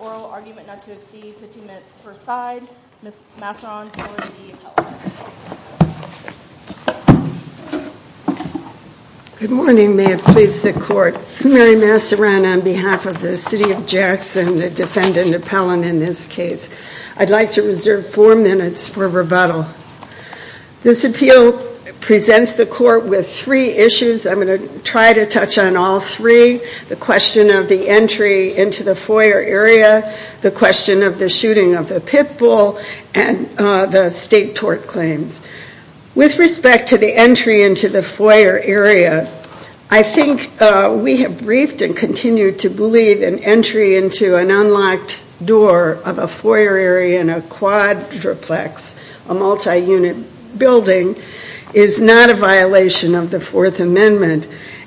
Oral argument not to exceed 15 minutes per side. Ms. Masseron, DePellon, and DePellon. Good morning. May it please the Court. Mary Masseron on behalf of the City of Jackson, the defendant DePellon in this case. I'd like to reserve four minutes for rebuttal. This appeal presents the Court with three issues. I'm going to try to touch on all three. The question of the entry into the foyer area, the question of the shooting of the pit bull, and the state tort claims. With respect to the entry into the foyer area, I think we have briefed and continue to believe an entry into an unlocked door of a foyer area in a quadruplex, a multi-unit building, is not a violation of the Fourth Amendment.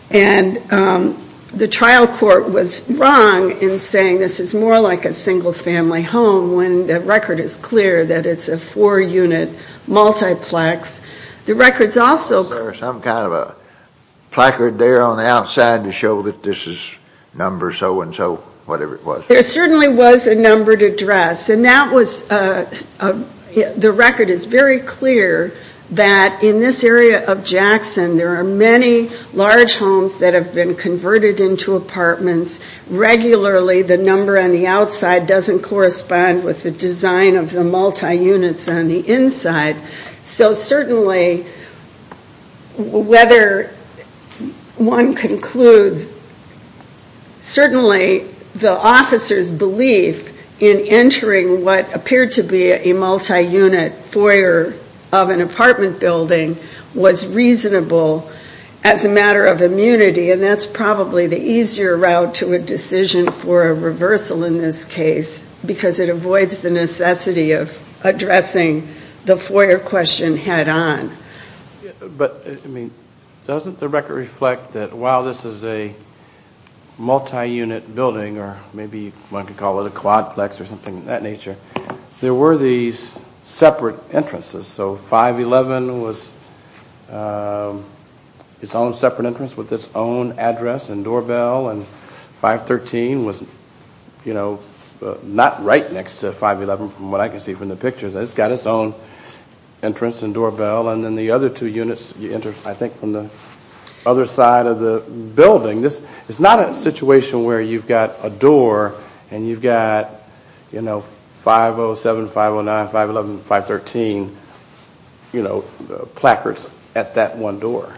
And the trial court was wrong in saying this is more like a single-family home when the record is clear that it's a four-unit multiplex. There certainly was a numbered address. And the record is very clear that in this area of Jackson there are many large homes that have been converted into apartments. Regularly the number on the outside doesn't correspond with the design of the multi-units on the inside. So certainly whether one concludes, certainly the officer's belief in entering what appeared to be a multi-unit foyer of an apartment building was reasonable as a matter of immunity. And that's probably the easier route to a decision for a reversal in this case, because it avoids the necessity of addressing the foyer question head on. But doesn't the record reflect that while this is a multi-unit building, or maybe one could call it a quadplex or something of that nature, there were these separate entrances. So 511 was its own separate entrance with its own address and doorbell. And 513 was not right next to 511 from what I can see from the pictures. It's got its own entrance and doorbell. And then the other two units you enter I think from the other side of the building. This is not a situation where you've got a door and you've got 507, 509, 511, 513 placards at that one door.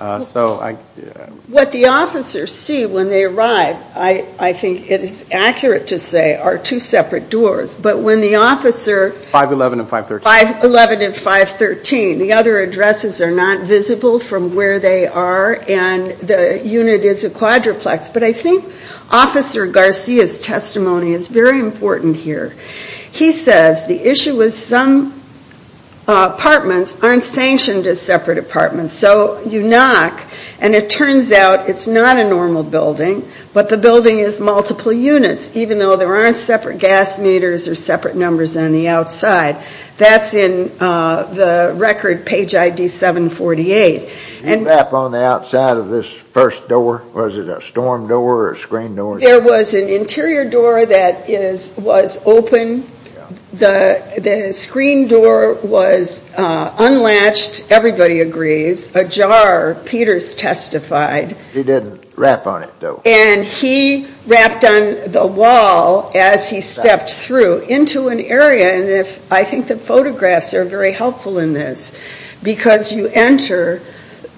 What the officers see when they arrive, I think it is accurate to say, are two separate doors. But when the officer- 511 and 513. 511 and 513. The other addresses are not visible from where they are and the unit is a quadruplex. But I think Officer Garcia's testimony is very important here. He says the issue is some apartments aren't sanctioned as separate apartments. So you knock and it turns out it's not a normal building, but the building is multiple units, even though there aren't separate gas meters or separate numbers on the outside. That's in the record page ID 748. Did you wrap on the outside of this first door? Was it a storm door or a screen door? There was an interior door that was open. The screen door was unlatched, everybody agrees. Ajar Peters testified. He didn't wrap on it though. And he wrapped on the wall as he stepped through into an area. And I think the photographs are very helpful in this. Because you enter,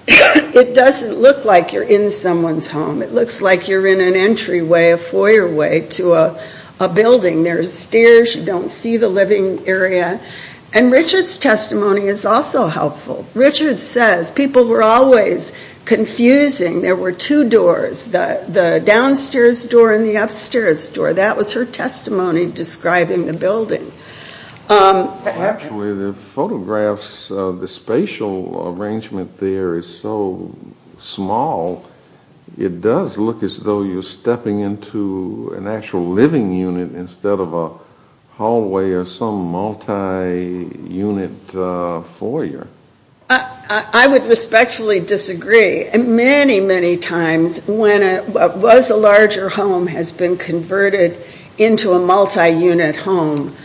it doesn't look like you're in someone's home. It looks like you're in an entryway, a foyer way to a building. There are stairs, you don't see the living area. And Richard's testimony is also helpful. Richard says people were always confusing. There were two doors, the downstairs door and the upstairs door. That was her testimony describing the building. Actually the photographs, the spatial arrangement there is so small, it does look as though you're stepping into an actual living unit instead of a hallway or some multi-unit foyer. I would respectfully disagree. Many, many times when a larger home has been converted into a multi-unit home,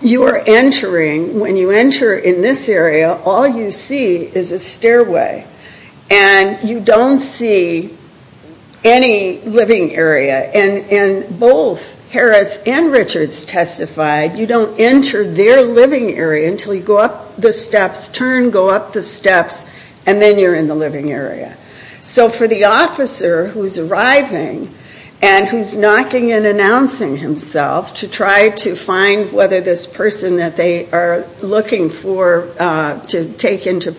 you are entering, when you enter in this area, all you see is a stairway. And you don't see any living area. And both Harris and Richard's testified, you don't enter their living area until you go up the steps, turn, go up the steps, and then you're in the living area. So for the officer who's arriving and who's knocking and announcing himself to try to find whether this person that they are looking for to take into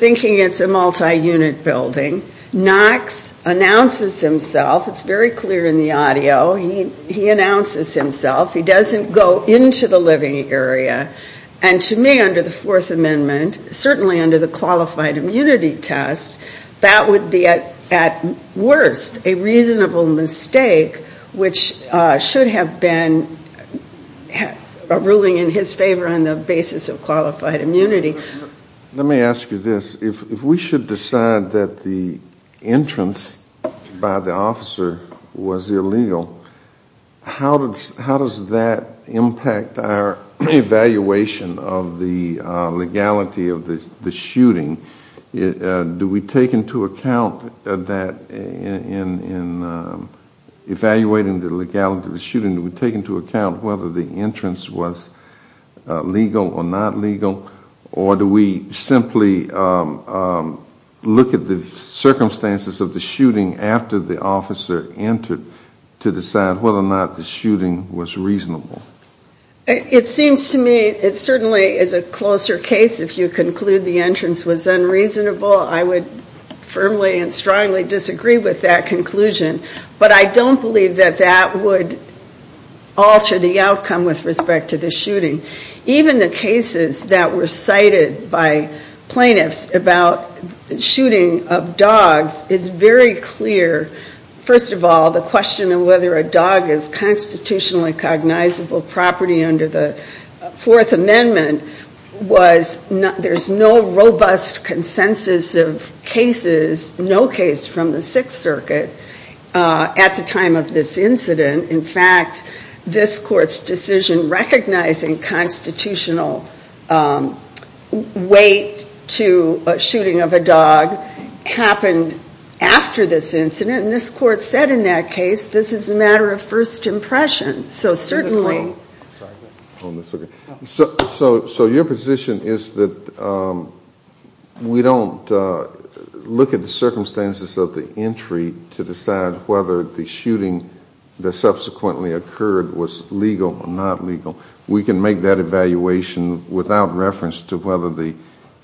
thinking it's a multi-unit building, knocks, announces himself. It's very clear in the audio. He announces himself. He doesn't go into the living area. And to me under the Fourth Amendment, certainly under the qualified immunity test, that would be at worst a reasonable mistake, which should have been a ruling in his favor on the basis of qualified immunity. Let me ask you this. If we should decide that the entrance by the officer was illegal, how does that impact our evaluation of the legality of the shooting? Do we take into account that in evaluating the legality of the shooting, do we take into account whether the entrance was legal or not legal, or do we simply look at the circumstances of the shooting after the officer entered to decide whether or not the shooting was reasonable? It seems to me it certainly is a closer case if you conclude the entrance was unreasonable. I would firmly and strongly disagree with that conclusion. But I don't believe that that would alter the outcome with respect to the shooting. Even the cases that were cited by plaintiffs about shooting of dogs is very clear. First of all, the question of whether a dog is constitutionally cognizable property under the Fourth Amendment was there's no robust consensus of cases, no case from the Sixth Circuit at the time of this incident. In fact, this Court's decision recognizing constitutional weight to a shooting of a dog happened after this incident, and this Court said in that case this is a matter of first impression. So your position is that we don't look at the circumstances of the entry to decide whether the shooting that subsequently occurred was legal or not legal. We can make that evaluation without reference to whether the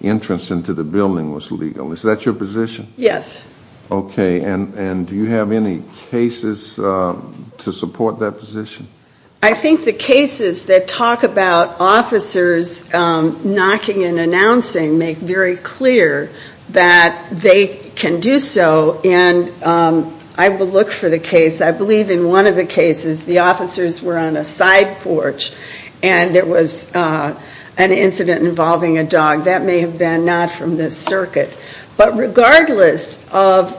entrance into the building was legal. Is that your position? Yes. Okay. And do you have any cases to support that position? I think the cases that talk about officers knocking and announcing make very clear that they can do so, and I will look for the case. I believe in one of the cases the officers were on a side porch and there was an incident involving a dog that may have been not from this circuit. But regardless of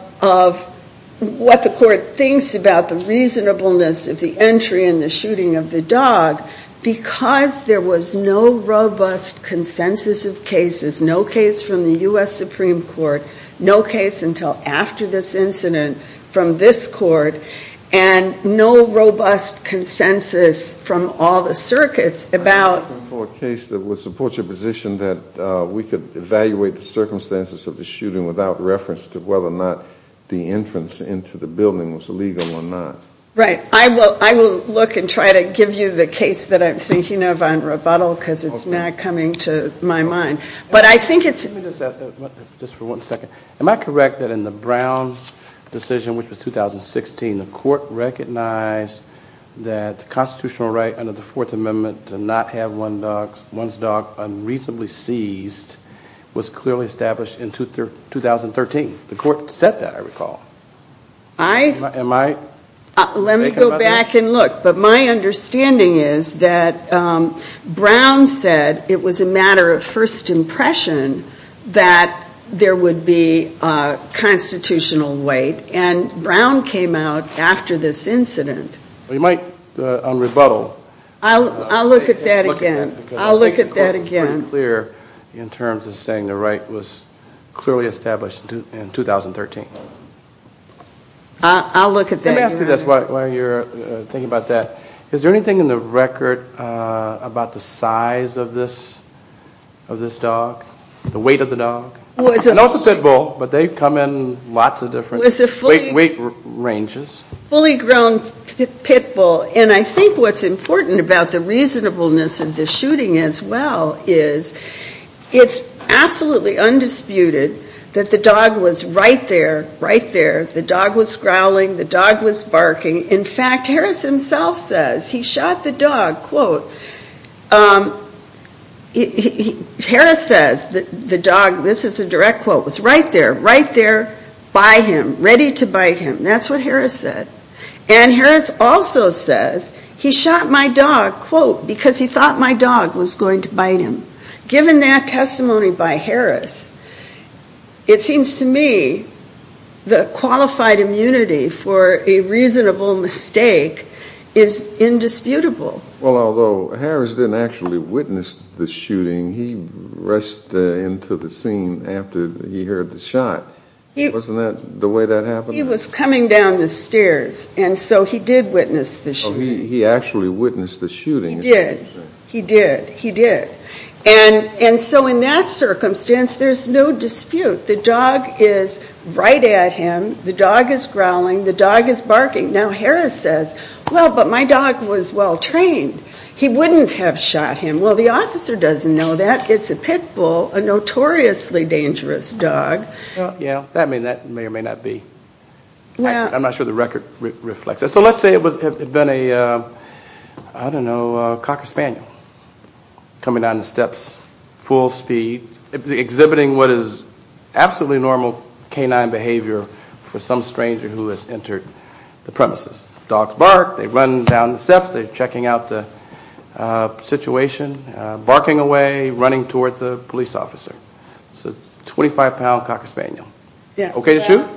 what the Court thinks about the reasonableness of the entry and the shooting of the dog, because there was no robust consensus of cases, no case from the U.S. Supreme Court, no case until after this incident from this court, and no robust consensus from all the circuits about I'm asking for a case that would support your position that we could evaluate the circumstances of the shooting without reference to whether or not the entrance into the building was legal or not. Right. I will look and try to give you the case that I'm thinking of on rebuttal because it's not coming to my mind. But I think it's Let me just ask, just for one second, am I correct that in the Brown decision, which was 2016, the Court recognized that the constitutional right under the Fourth Amendment to not have one's dog unreasonably seized was clearly established in 2013? The Court said that, I recall. Am I mistaken about that? Let me go back and look. But my understanding is that Brown said it was a matter of first impression that there would be constitutional weight. And Brown came out after this incident. You might, on rebuttal I'll look at that again. I'll look at that again. The Court was pretty clear in terms of saying the right was clearly established in 2013. I'll look at that again. Let me ask you this while you're thinking about that. Is there anything in the record about the size of this dog, the weight of the dog? I know it's a pit bull, but they've come in lots of different weight ranges. It was a fully grown pit bull. And I think what's important about the reasonableness of the shooting as well is it's absolutely undisputed that the dog was right there, right there. The dog was growling. The dog was barking. In fact, Harris himself says he shot the dog, quote. Harris says the dog, this is a direct quote, was right there, right there by him, ready to bite him. That's what Harris said. And Harris also says he shot my dog, quote, because he thought my dog was going to bite him. Given that testimony by Harris, it seems to me the qualified immunity for a reasonable mistake is indisputable. Well, although Harris didn't actually witness the shooting, he rushed into the scene after he heard the shot. Wasn't that the way that happened? He was coming down the stairs, and so he did witness the shooting. He actually witnessed the shooting. He did. He did. He did. And so in that circumstance, there's no dispute. The dog is growling. The dog is barking. Now, Harris says, well, but my dog was well trained. He wouldn't have shot him. Well, the officer doesn't know that. It's a pit bull, a notoriously dangerous dog. Yeah, that may or may not be. I'm not sure the record reflects that. So let's say it had been a, I don't know, a Cocker Spaniel coming down the steps full speed, exhibiting what is absolutely normal canine behavior for some stranger who has entered the premises. Dogs bark. They run down the steps. They're checking out the situation, barking away, running toward the police officer. It's a 25-pound Cocker Spaniel. Okay to shoot?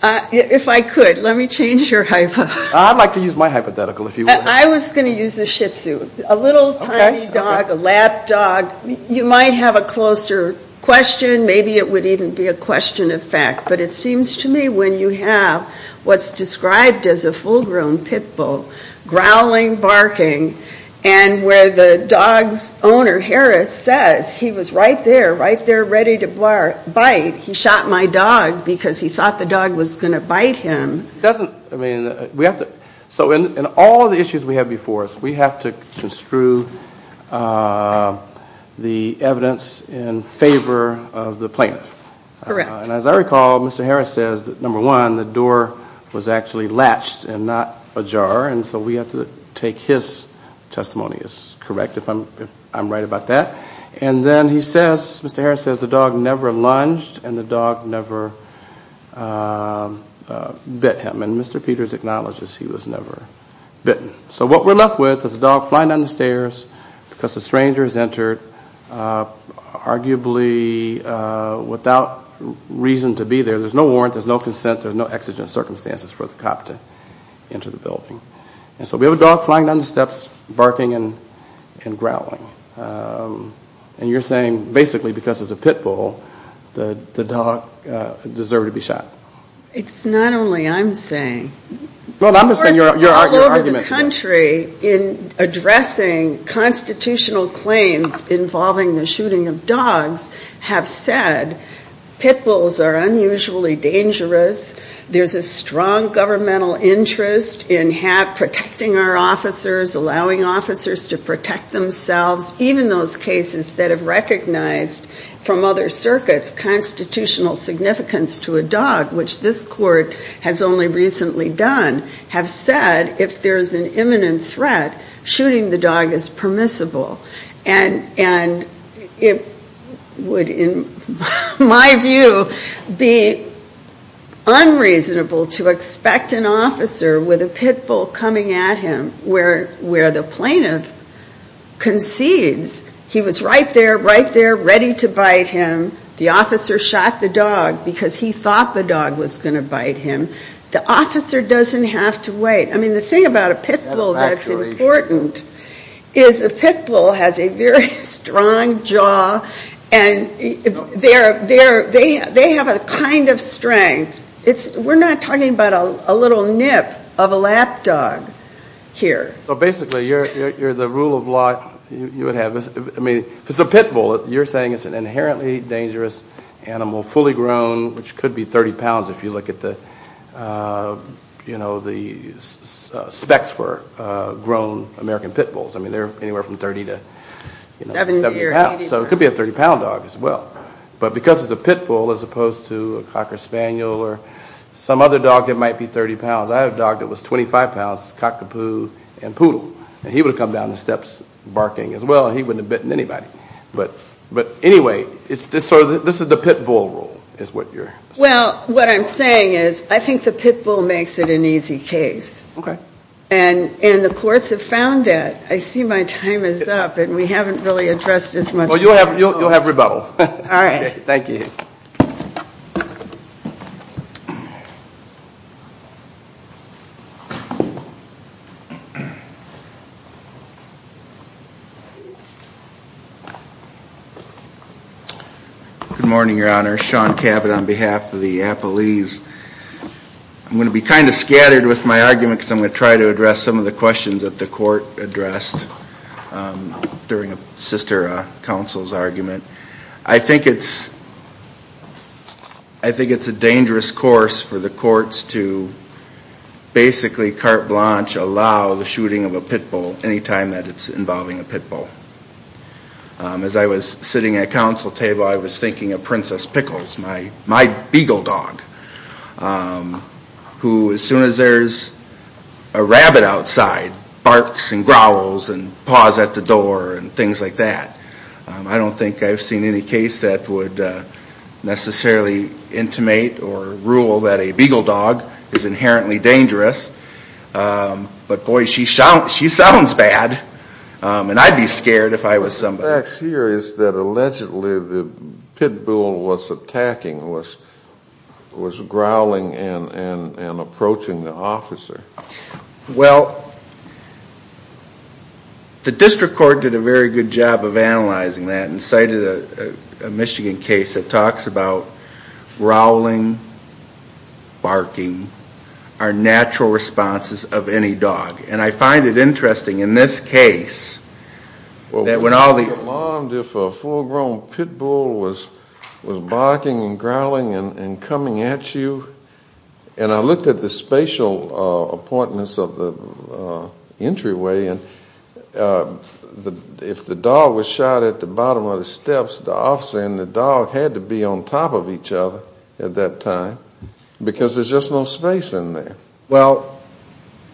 If I could, let me change your hypo. I'd like to use my hypothetical if you would. I was going to use a shih tzu, a little tiny dog, a lap dog. You might have a closer question. Maybe it would even be a question of fact. But it seems to me when you have what's described as a full-grown pit bull growling, barking, and where the dog's owner, Harris, says he was right there, right there ready to bite, he shot my dog because he thought the dog was going to bite him. So in all of the issues we have before us, we have to construe the evidence in favor of the plaintiff. As I recall, Mr. Harris says that, number one, the door was actually latched and not ajar, and so we have to take his testimony as correct if I'm right about that. And then he says, Mr. Harris says, the dog never lunged and the dog never bit him. And Mr. Peters acknowledges he was never bitten. So what we're left with is a dog flying down the stairs because a stranger has entered, arguably without reason to be there. There's no warrant. There's no consent. And so we have a dog flying down the steps, barking and growling. And you're saying basically because it's a pit bull, the dog deserved to be shot. It's not only I'm saying. All over the country in addressing constitutional claims involving the shooting of dogs have said pit bulls are unusually dangerous. There's a strong governmental interest in protecting our officers, allowing officers to protect themselves. Even those cases that have recognized from other circuits constitutional significance to a dog, which this court has only recently done, have said if there's an imminent threat, shooting the dog is permissible. And it would, in my view, be unreasonable to expect an officer with a pit bull coming at him where the plaintiff concedes he was right there, right there, ready to bite him. The officer shot the dog because he thought the dog was going to bite him. The officer doesn't have to wait. I mean, the thing about a pit bull that's important is the pit bull has a very strong jaw, and they have a kind of strength. We're not talking about a little nip of a lap dog here. So basically you're the rule of law. I mean, if it's a pit bull, you're saying it's an inherently dangerous animal, fully grown, which could be 30 pounds if you look at the specs for grown American pit bulls. I mean, they're anywhere from 30 to 70 pounds. So it could be a 30-pound dog as well. But because it's a pit bull as opposed to a cocker spaniel or some other dog that might be 30 pounds. I have a dog that was 25 pounds, cockapoo and poodle. And he would have come down the steps barking as well, and he wouldn't have bitten anybody. But anyway, this is the pit bull rule is what you're saying. Well, what I'm saying is I think the pit bull makes it an easy case. Okay. And the courts have found that. I see my time is up, and we haven't really addressed as much. Well, you'll have rebuttal. All right. Thank you. Good morning, Your Honor. Sean Cabot on behalf of the appellees. I'm going to be kind of scattered with my arguments. I'm going to try to address some of the questions that the court addressed during a sister counsel's argument. I think it's a dangerous course for the courts to basically carte blanche allow the shooting of a pit bull anytime that it's involving a pit bull. As I was sitting at a counsel table, I was thinking of Princess Pickles, my beagle dog, who as soon as there's a rabbit outside barks and growls and paws at the door and things like that. I don't think I've seen any case that would necessarily intimate or rule that a beagle dog is inherently dangerous. But, boy, she sounds bad. And I'd be scared if I was somebody. The facts here is that allegedly the pit bull was attacking, was growling and approaching the officer. Well, the district court did a very good job of analyzing that and cited a Michigan case that talks about growling, barking are natural responses of any dog. And I find it interesting in this case that when all the- Well, we were alarmed if a full-grown pit bull was barking and growling and coming at you. And I looked at the spatial appointments of the entryway. And if the dog was shot at the bottom of the steps, the officer and the dog had to be on top of each other at that time because there's just no space in there. Well,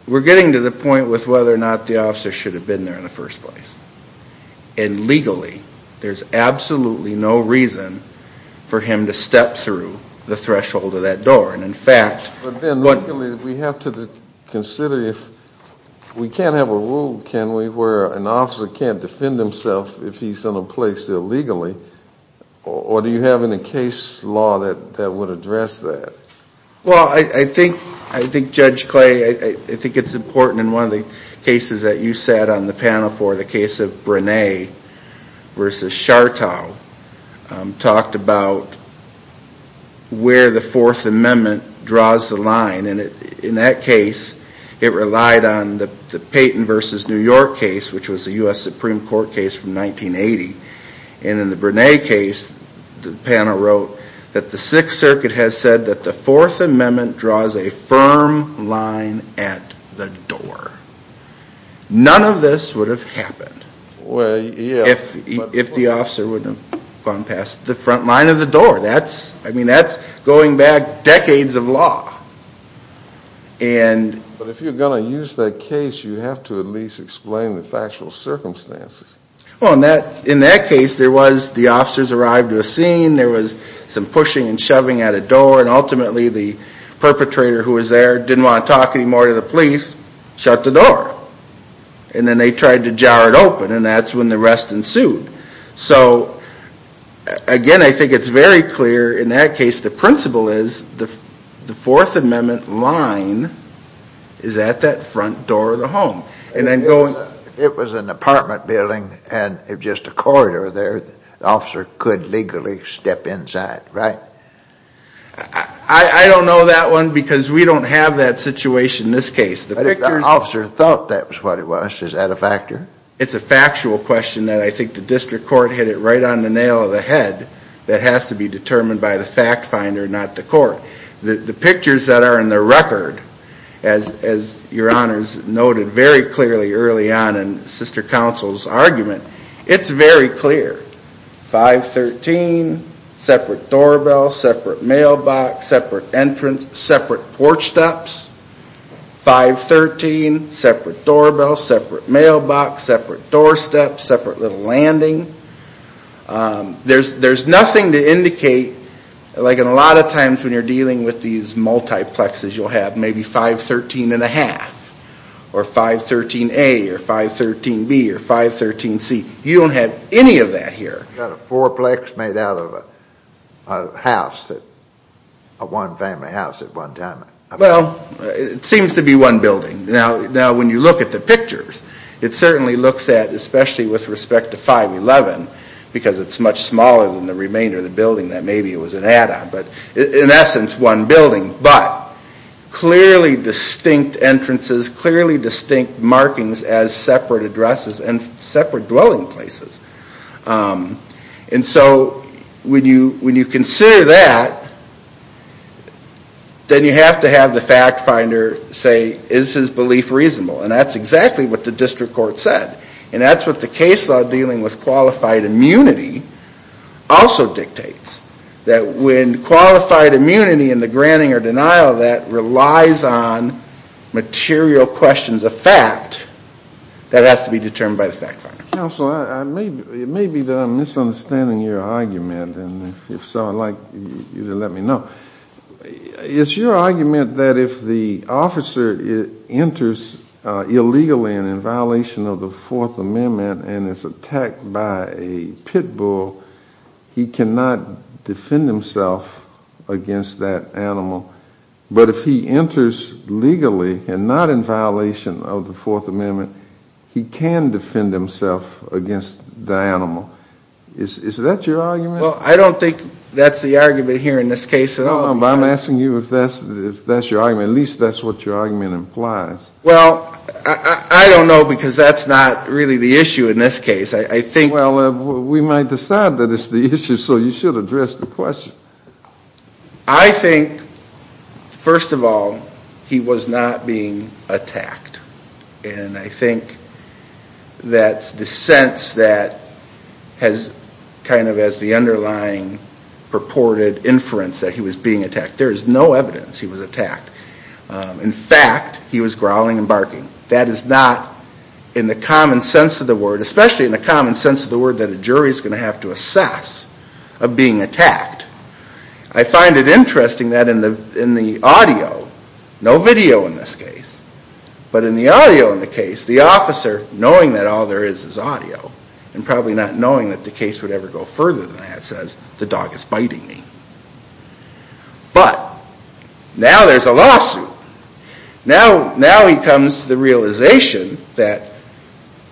we're getting to the point with whether or not the officer should have been there in the first place. And legally, there's absolutely no reason for him to step through the threshold of that door. And, in fact- But then, legally, we have to consider if we can't have a rule, can we, where an officer can't defend himself if he's in a place illegally? Or do you have any case law that would address that? Well, I think, Judge Clay, I think it's important. In one of the cases that you sat on the panel for, the case of Brene versus Chartow, talked about where the Fourth Amendment draws the line. And in that case, it relied on the Payton versus New York case, which was a U.S. Supreme Court case from 1980. And in the Brene case, the panel wrote that the Sixth Circuit has said that the Fourth Amendment draws a firm line at the door. None of this would have happened if the officer wouldn't have gone past the front line of the door. That's, I mean, that's going back decades of law. But if you're going to use that case, you have to at least explain the factual circumstances. Well, in that case, there was, the officers arrived to a scene, there was some pushing and shoving at a door, and ultimately the perpetrator who was there didn't want to talk anymore to the police, shut the door. And then they tried to jar it open, and that's when the arrest ensued. So, again, I think it's very clear, in that case, the principle is the Fourth Amendment line is at that front door of the home. It was an apartment building and just a corridor there. The officer could legally step inside, right? I don't know that one because we don't have that situation in this case. But if the officer thought that was what it was, is that a factor? It's a factual question that I think the district court hit it right on the nail of the head. That has to be determined by the fact finder, not the court. The pictures that are in the record, as Your Honors noted very clearly early on in Sister Counsel's argument, it's very clear. 513, separate doorbell, separate mailbox, separate entrance, separate porch steps. 513, separate doorbell, separate mailbox, separate doorstep, separate little landing. There's nothing to indicate, like a lot of times when you're dealing with these multiplexes, you'll have maybe 513 and a half or 513A or 513B or 513C. You don't have any of that here. You've got a fourplex made out of a house, a one-family house at one time. Well, it seems to be one building. Now, when you look at the pictures, it certainly looks at, especially with respect to 511, because it's much smaller than the remainder of the building that maybe it was an add-on, but in essence one building, but clearly distinct entrances, clearly distinct markings as separate addresses and separate dwelling places. And so when you consider that, then you have to have the fact finder say, is his belief reasonable? And that's exactly what the district court said. And that's what the case law dealing with qualified immunity also dictates, that when qualified immunity and the granting or denial of that relies on material questions of fact, that has to be determined by the fact finder. Counsel, it may be that I'm misunderstanding your argument. And if so, I'd like you to let me know. It's your argument that if the officer enters illegally and in violation of the Fourth Amendment and is attacked by a pit bull, he cannot defend himself against that animal. But if he enters legally and not in violation of the Fourth Amendment, he can defend himself against the animal. Is that your argument? Well, I don't think that's the argument here in this case at all. No, but I'm asking you if that's your argument. At least that's what your argument implies. Well, I don't know, because that's not really the issue in this case. I think we might decide that it's the issue, so you should address the question. I think, first of all, he was not being attacked. And I think that's the sense that has kind of as the underlying purported inference that he was being attacked. There is no evidence he was attacked. In fact, he was growling and barking. That is not in the common sense of the word, I find it interesting that in the audio, no video in this case, but in the audio in the case, the officer, knowing that all there is is audio, and probably not knowing that the case would ever go further than that, says, the dog is biting me. But now there's a lawsuit. Now he comes to the realization that,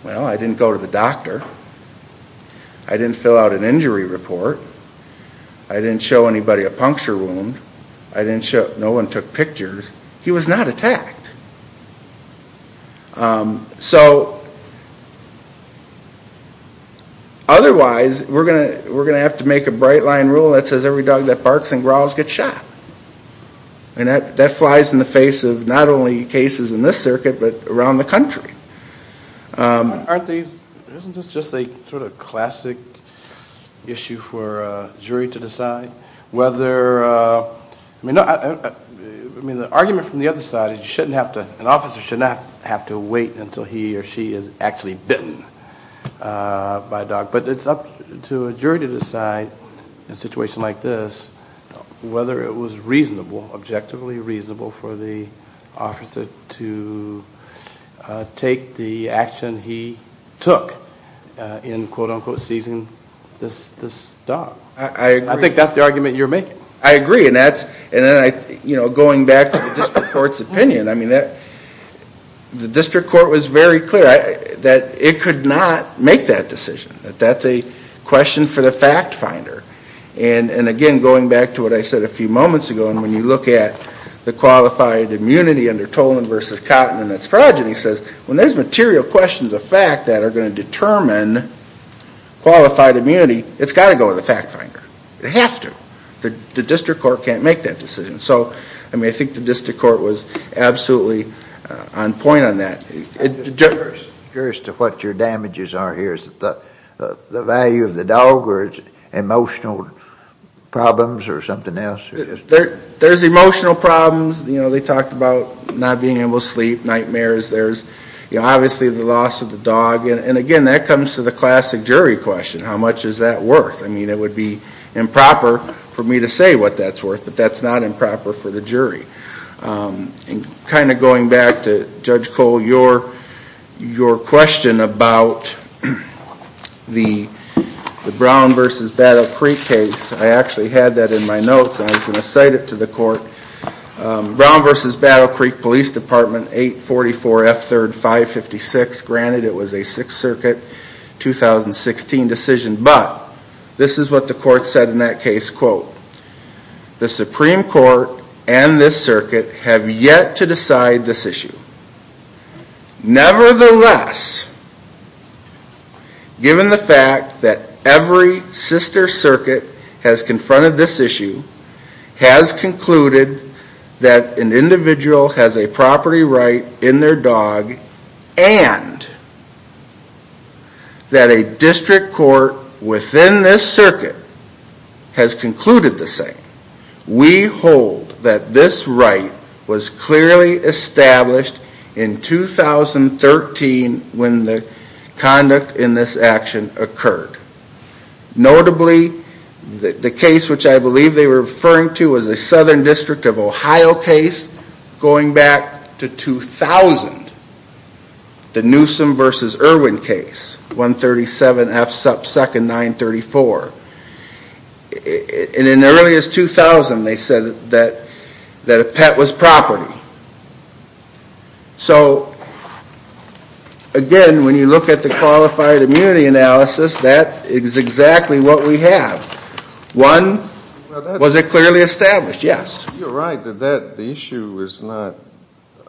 well, I didn't go to the doctor. I didn't fill out an injury report. I didn't show anybody a puncture wound. No one took pictures. He was not attacked. So, otherwise, we're going to have to make a bright line rule that says every dog that barks and growls gets shot. And that flies in the face of not only cases in this circuit, but around the country. Aren't these, isn't this just a sort of classic issue for a jury to decide whether, I mean, the argument from the other side is you shouldn't have to, an officer should not have to wait until he or she is actually bitten by a dog. But it's up to a jury to decide in a situation like this whether it was reasonable, objectively reasonable for the officer to take the action he took in, quote, unquote, seizing this dog. I agree. I think that's the argument you're making. I agree. And that's, you know, going back to the district court's opinion. I mean, the district court was very clear that it could not make that decision, that that's a question for the fact finder. And again, going back to what I said a few moments ago, and when you look at the qualified immunity under Tolan v. Cotton and its fraud, he says when there's material questions of fact that are going to determine qualified immunity, it's got to go to the fact finder. It has to. The district court can't make that decision. So, I mean, I think the district court was absolutely on point on that. I'm curious to what your damages are here. Is it the value of the dog or emotional problems or something else? There's emotional problems. You know, they talked about not being able to sleep, nightmares. There's obviously the loss of the dog. And, again, that comes to the classic jury question, how much is that worth? I mean, it would be improper for me to say what that's worth, but that's not improper for the jury. And kind of going back to Judge Cole, your question about the Brown v. Battle Creek case, I actually had that in my notes and I was going to cite it to the court. Brown v. Battle Creek Police Department, 844 F3rd 556. Granted, it was a Sixth Circuit 2016 decision, but this is what the court said in that case, quote, The Supreme Court and this circuit have yet to decide this issue. Nevertheless, given the fact that every sister circuit has confronted this issue, has concluded that an individual has a property right in their dog and that a district court within this circuit has concluded the same, we hold that this right was clearly established in 2013 when the conduct in this action occurred. Notably, the case which I believe they were referring to was the Southern District of Ohio case going back to 2000, the Newsom v. Irwin case, 137 F2nd 934. And in as early as 2000, they said that a pet was property. So again, when you look at the qualified immunity analysis, that is exactly what we have. One, was it clearly established? Yes. You're right that the issue is not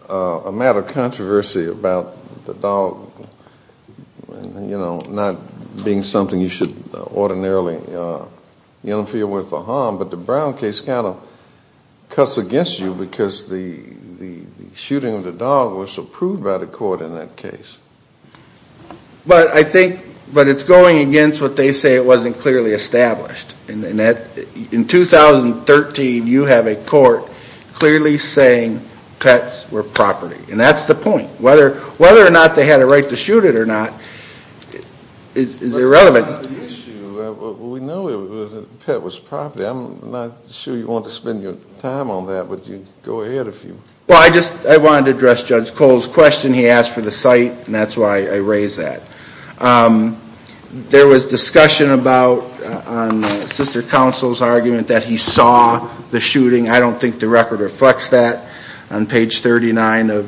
a matter of controversy about the dog, you know, not being something you should ordinarily interfere with or harm, but the Brown case kind of cuts against you because the shooting of the dog was approved by the court in that case. But I think, but it's going against what they say it wasn't clearly established. And in 2013, you have a court clearly saying pets were property. And that's the point. Whether or not they had a right to shoot it or not is irrelevant. The issue, we know the pet was property. I'm not sure you want to spend your time on that, but go ahead if you want. Well, I just, I wanted to address Judge Cole's question. He asked for the site and that's why I raised that. There was discussion about, on sister counsel's argument, that he saw the shooting. I don't think the record reflects that. On page 39 of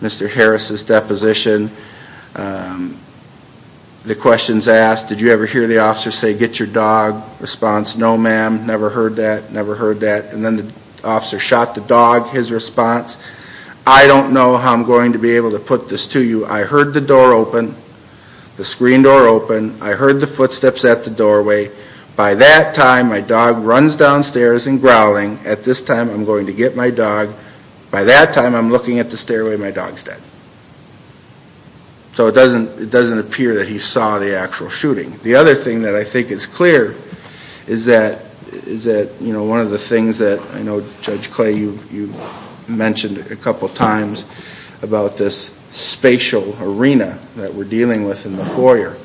Mr. Harris's deposition, the question's asked, did you ever hear the officer say, get your dog response? No, ma'am, never heard that, never heard that. And then the officer shot the dog, his response. I don't know how I'm going to be able to put this to you. I heard the door open, the screen door open. I heard the footsteps at the doorway. By that time, my dog runs downstairs and growling. At this time, I'm going to get my dog. By that time, I'm looking at the stairway and my dog's dead. So it doesn't appear that he saw the actual shooting. The other thing that I think is clear is that, you know, one of the things that, you know, Judge Clay, you mentioned a couple times about this spatial arena that we're dealing with in the foyer.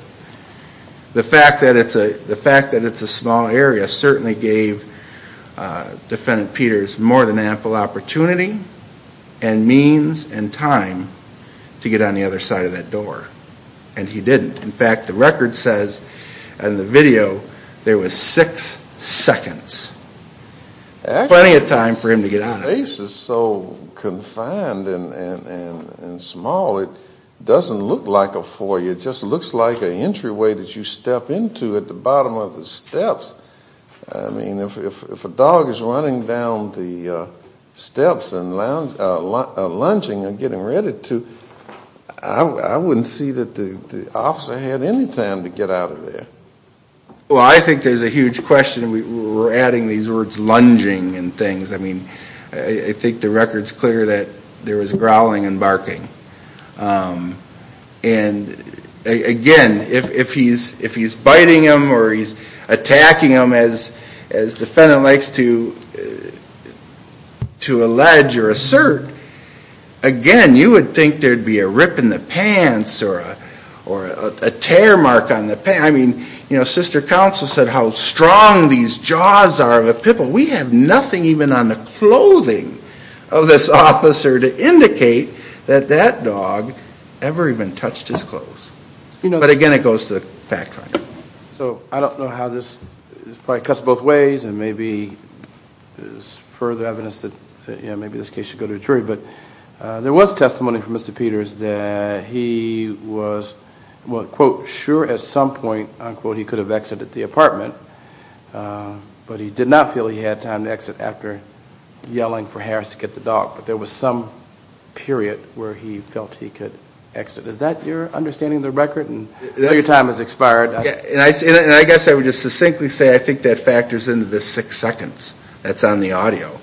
The fact that it's a small area certainly gave Defendant Peters more than ample opportunity and means and time to get on the other side of that door, and he didn't. In fact, the record says in the video there was six seconds. Plenty of time for him to get out of there. The space is so confined and small, it doesn't look like a foyer. It just looks like an entryway that you step into at the bottom of the steps. I mean, if a dog is running down the steps and lunging and getting ready to, I wouldn't see that the officer had any time to get out of there. Well, I think there's a huge question. We're adding these words lunging and things. I mean, I think the record's clear that there was growling and barking. And again, if he's biting him or he's attacking him, as the defendant likes to allege or assert, again, you would think there'd be a rip in the pants or a tear mark on the pants. I mean, sister counsel said how strong these jaws are of a pitbull. We have nothing even on the clothing of this officer to indicate that that dog ever even touched his clothes. But again, it goes to the fact finder. So I don't know how this probably cuts both ways, and maybe there's further evidence that maybe this case should go to a jury. But there was testimony from Mr. Peters that he was, quote, sure at some point, unquote, he could have exited the apartment. But he did not feel he had time to exit after yelling for Harris to get the dog. But there was some period where he felt he could exit. Is that your understanding of the record? I know your time has expired. And I guess I would just succinctly say I think that factors into the six seconds that's on the audio,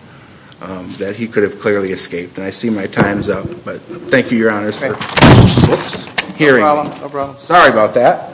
that he could have clearly escaped. And I see my time's up. But thank you, Your Honors, for hearing. No problem. Sorry about that.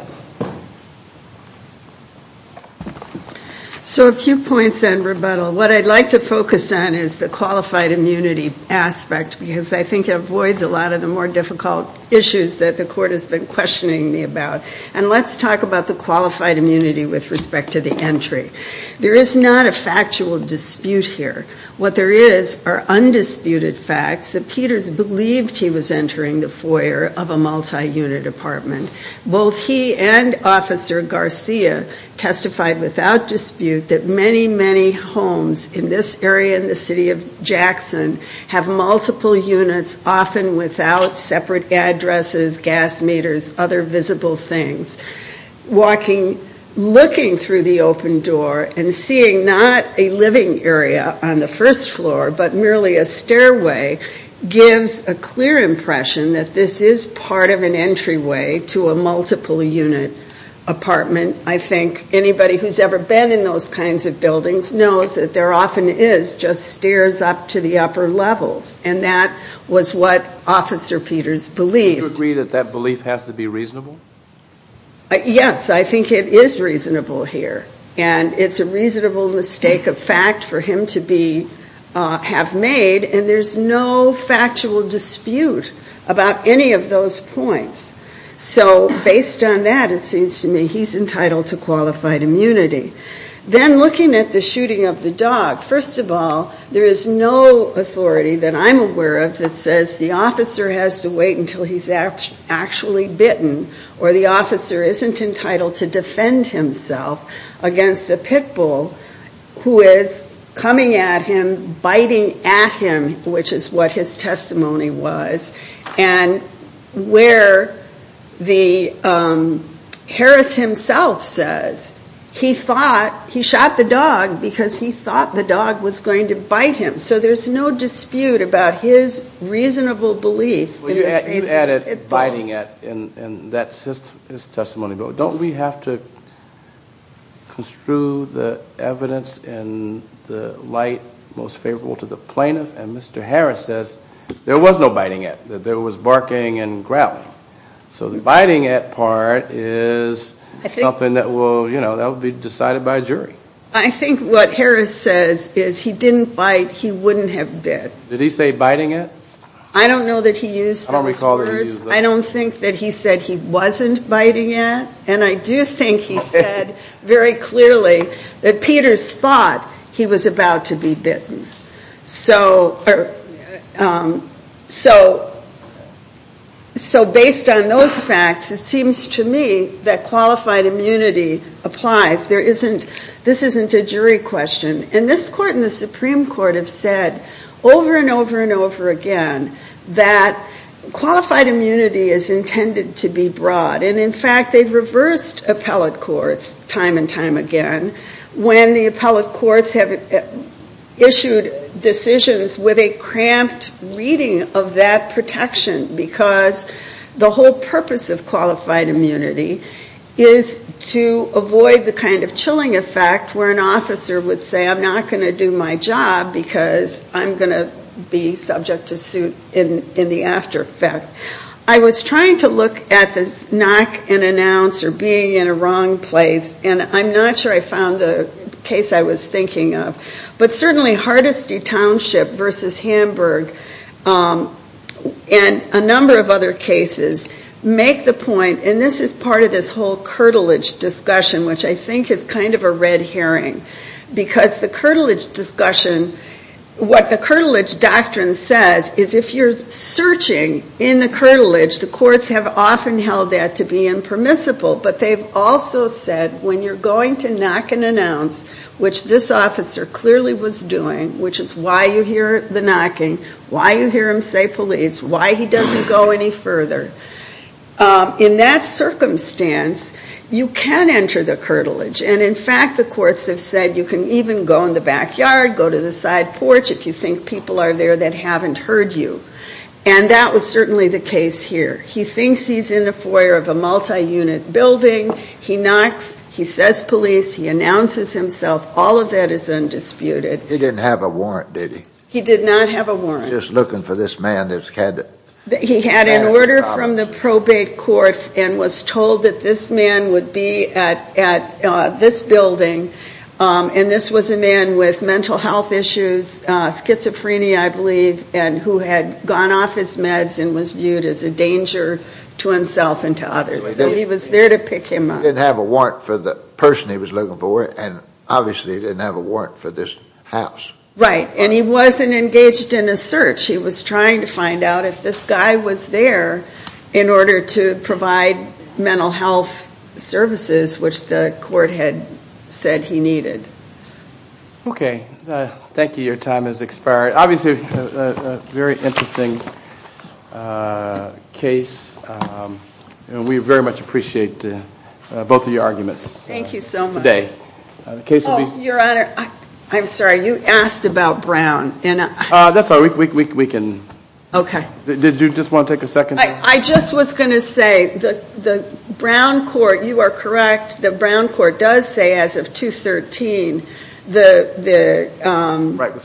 So a few points on rebuttal. What I'd like to focus on is the qualified immunity aspect, because I think it avoids a lot of the more difficult issues that the court has been questioning me about. And let's talk about the qualified immunity with respect to the entry. There is not a factual dispute here. What there is are undisputed facts that Peters believed he was entering the foyer of a multi-unit apartment. Both he and Officer Garcia testified without dispute that many, many homes in this area in the city of Jackson have multiple units, often without separate addresses, gas meters, other visible things. Walking, looking through the open door and seeing not a living area on the first floor, but merely a stairway gives a clear impression that this is part of an entryway to a multiple-unit apartment. I think anybody who's ever been in those kinds of buildings knows that there often is just stairs up to the upper levels. And that was what Officer Peters believed. Do you agree that that belief has to be reasonable? Yes, I think it is reasonable here. And it's a reasonable mistake of fact for him to have made, and there's no factual dispute about any of those points. So based on that, it seems to me he's entitled to qualified immunity. Then looking at the shooting of the dog, first of all, there is no authority that I'm aware of that says the officer has to wait until he's actually bitten or the officer isn't entitled to defend himself against a pit bull who is coming at him, biting at him, which is what his testimony was. And where Harris himself says he thought he shot the dog because he thought the dog was going to bite him. So there's no dispute about his reasonable belief in the face of a pit bull. You added biting at in that testimony, but don't we have to construe the evidence in the light most favorable to the plaintiff? And Mr. Harris says there was no biting at, that there was barking and growling. So the biting at part is something that will be decided by a jury. I think what Harris says is he didn't bite, he wouldn't have bit. Did he say biting at? I don't know that he used those words. I don't think that he said he wasn't biting at, and I do think he said very clearly that Peters thought he was about to be bitten. So based on those facts, it seems to me that qualified immunity applies. This isn't a jury question. And this Court and the Supreme Court have said over and over and over again that qualified immunity is intended to be broad, and in fact they've reversed appellate courts time and time again. When the appellate courts have issued decisions with a cramped reading of that protection, because the whole purpose of qualified immunity is to avoid the kind of chilling effect where an officer would say I'm not going to do my job because I'm going to be subject to suit in the after effect. I was trying to look at this knock and announce or being in a wrong place, and I'm not sure I found the case I was thinking of. But certainly Hardesty Township versus Hamburg and a number of other cases make the point, and this is part of this whole curtilage discussion, which I think is kind of a red herring, because the curtilage discussion, what the curtilage doctrine says is if you're searching in the curtilage, the courts have often held that to be impermissible, but they've also said when you're going to knock and announce, which this officer clearly was doing, which is why you hear the knocking, why you hear him say police, why he doesn't go any further, in that circumstance you can enter the curtilage. And in fact the courts have said you can even go in the backyard, go to the side porch, if you think people are there that haven't heard you. And that was certainly the case here. He thinks he's in the foyer of a multi-unit building. He knocks. He says police. He announces himself. All of that is undisputed. He didn't have a warrant, did he? He did not have a warrant. Just looking for this man that's had a problem. He had an order from the probate court and was told that this man would be at this building, and this was a man with mental health issues, schizophrenia, I believe, and who had gone off his meds and was viewed as a danger to himself and to others. So he was there to pick him up. He didn't have a warrant for the person he was looking for, and obviously he didn't have a warrant for this house. Right. And he wasn't engaged in a search. He was trying to find out if this guy was there in order to provide mental health services, which the court had said he needed. Okay. Thank you. Your time has expired. Obviously a very interesting case, and we very much appreciate both of your arguments today. Thank you so much. Your Honor, I'm sorry. You asked about Brown. That's all right. We can. Okay. Did you just want to take a second? I just was going to say the Brown court, you are correct, the Brown court does say as of 2-13 the right was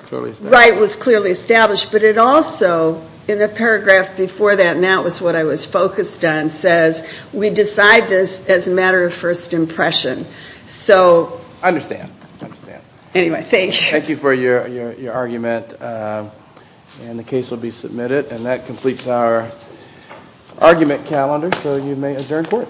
clearly established, but it also, in the paragraph before that, and that was what I was focused on, says we decide this as a matter of first impression. I understand. Anyway, thank you. Thank you for your argument, and the case will be submitted. And that completes our argument calendar, so you may adjourn court.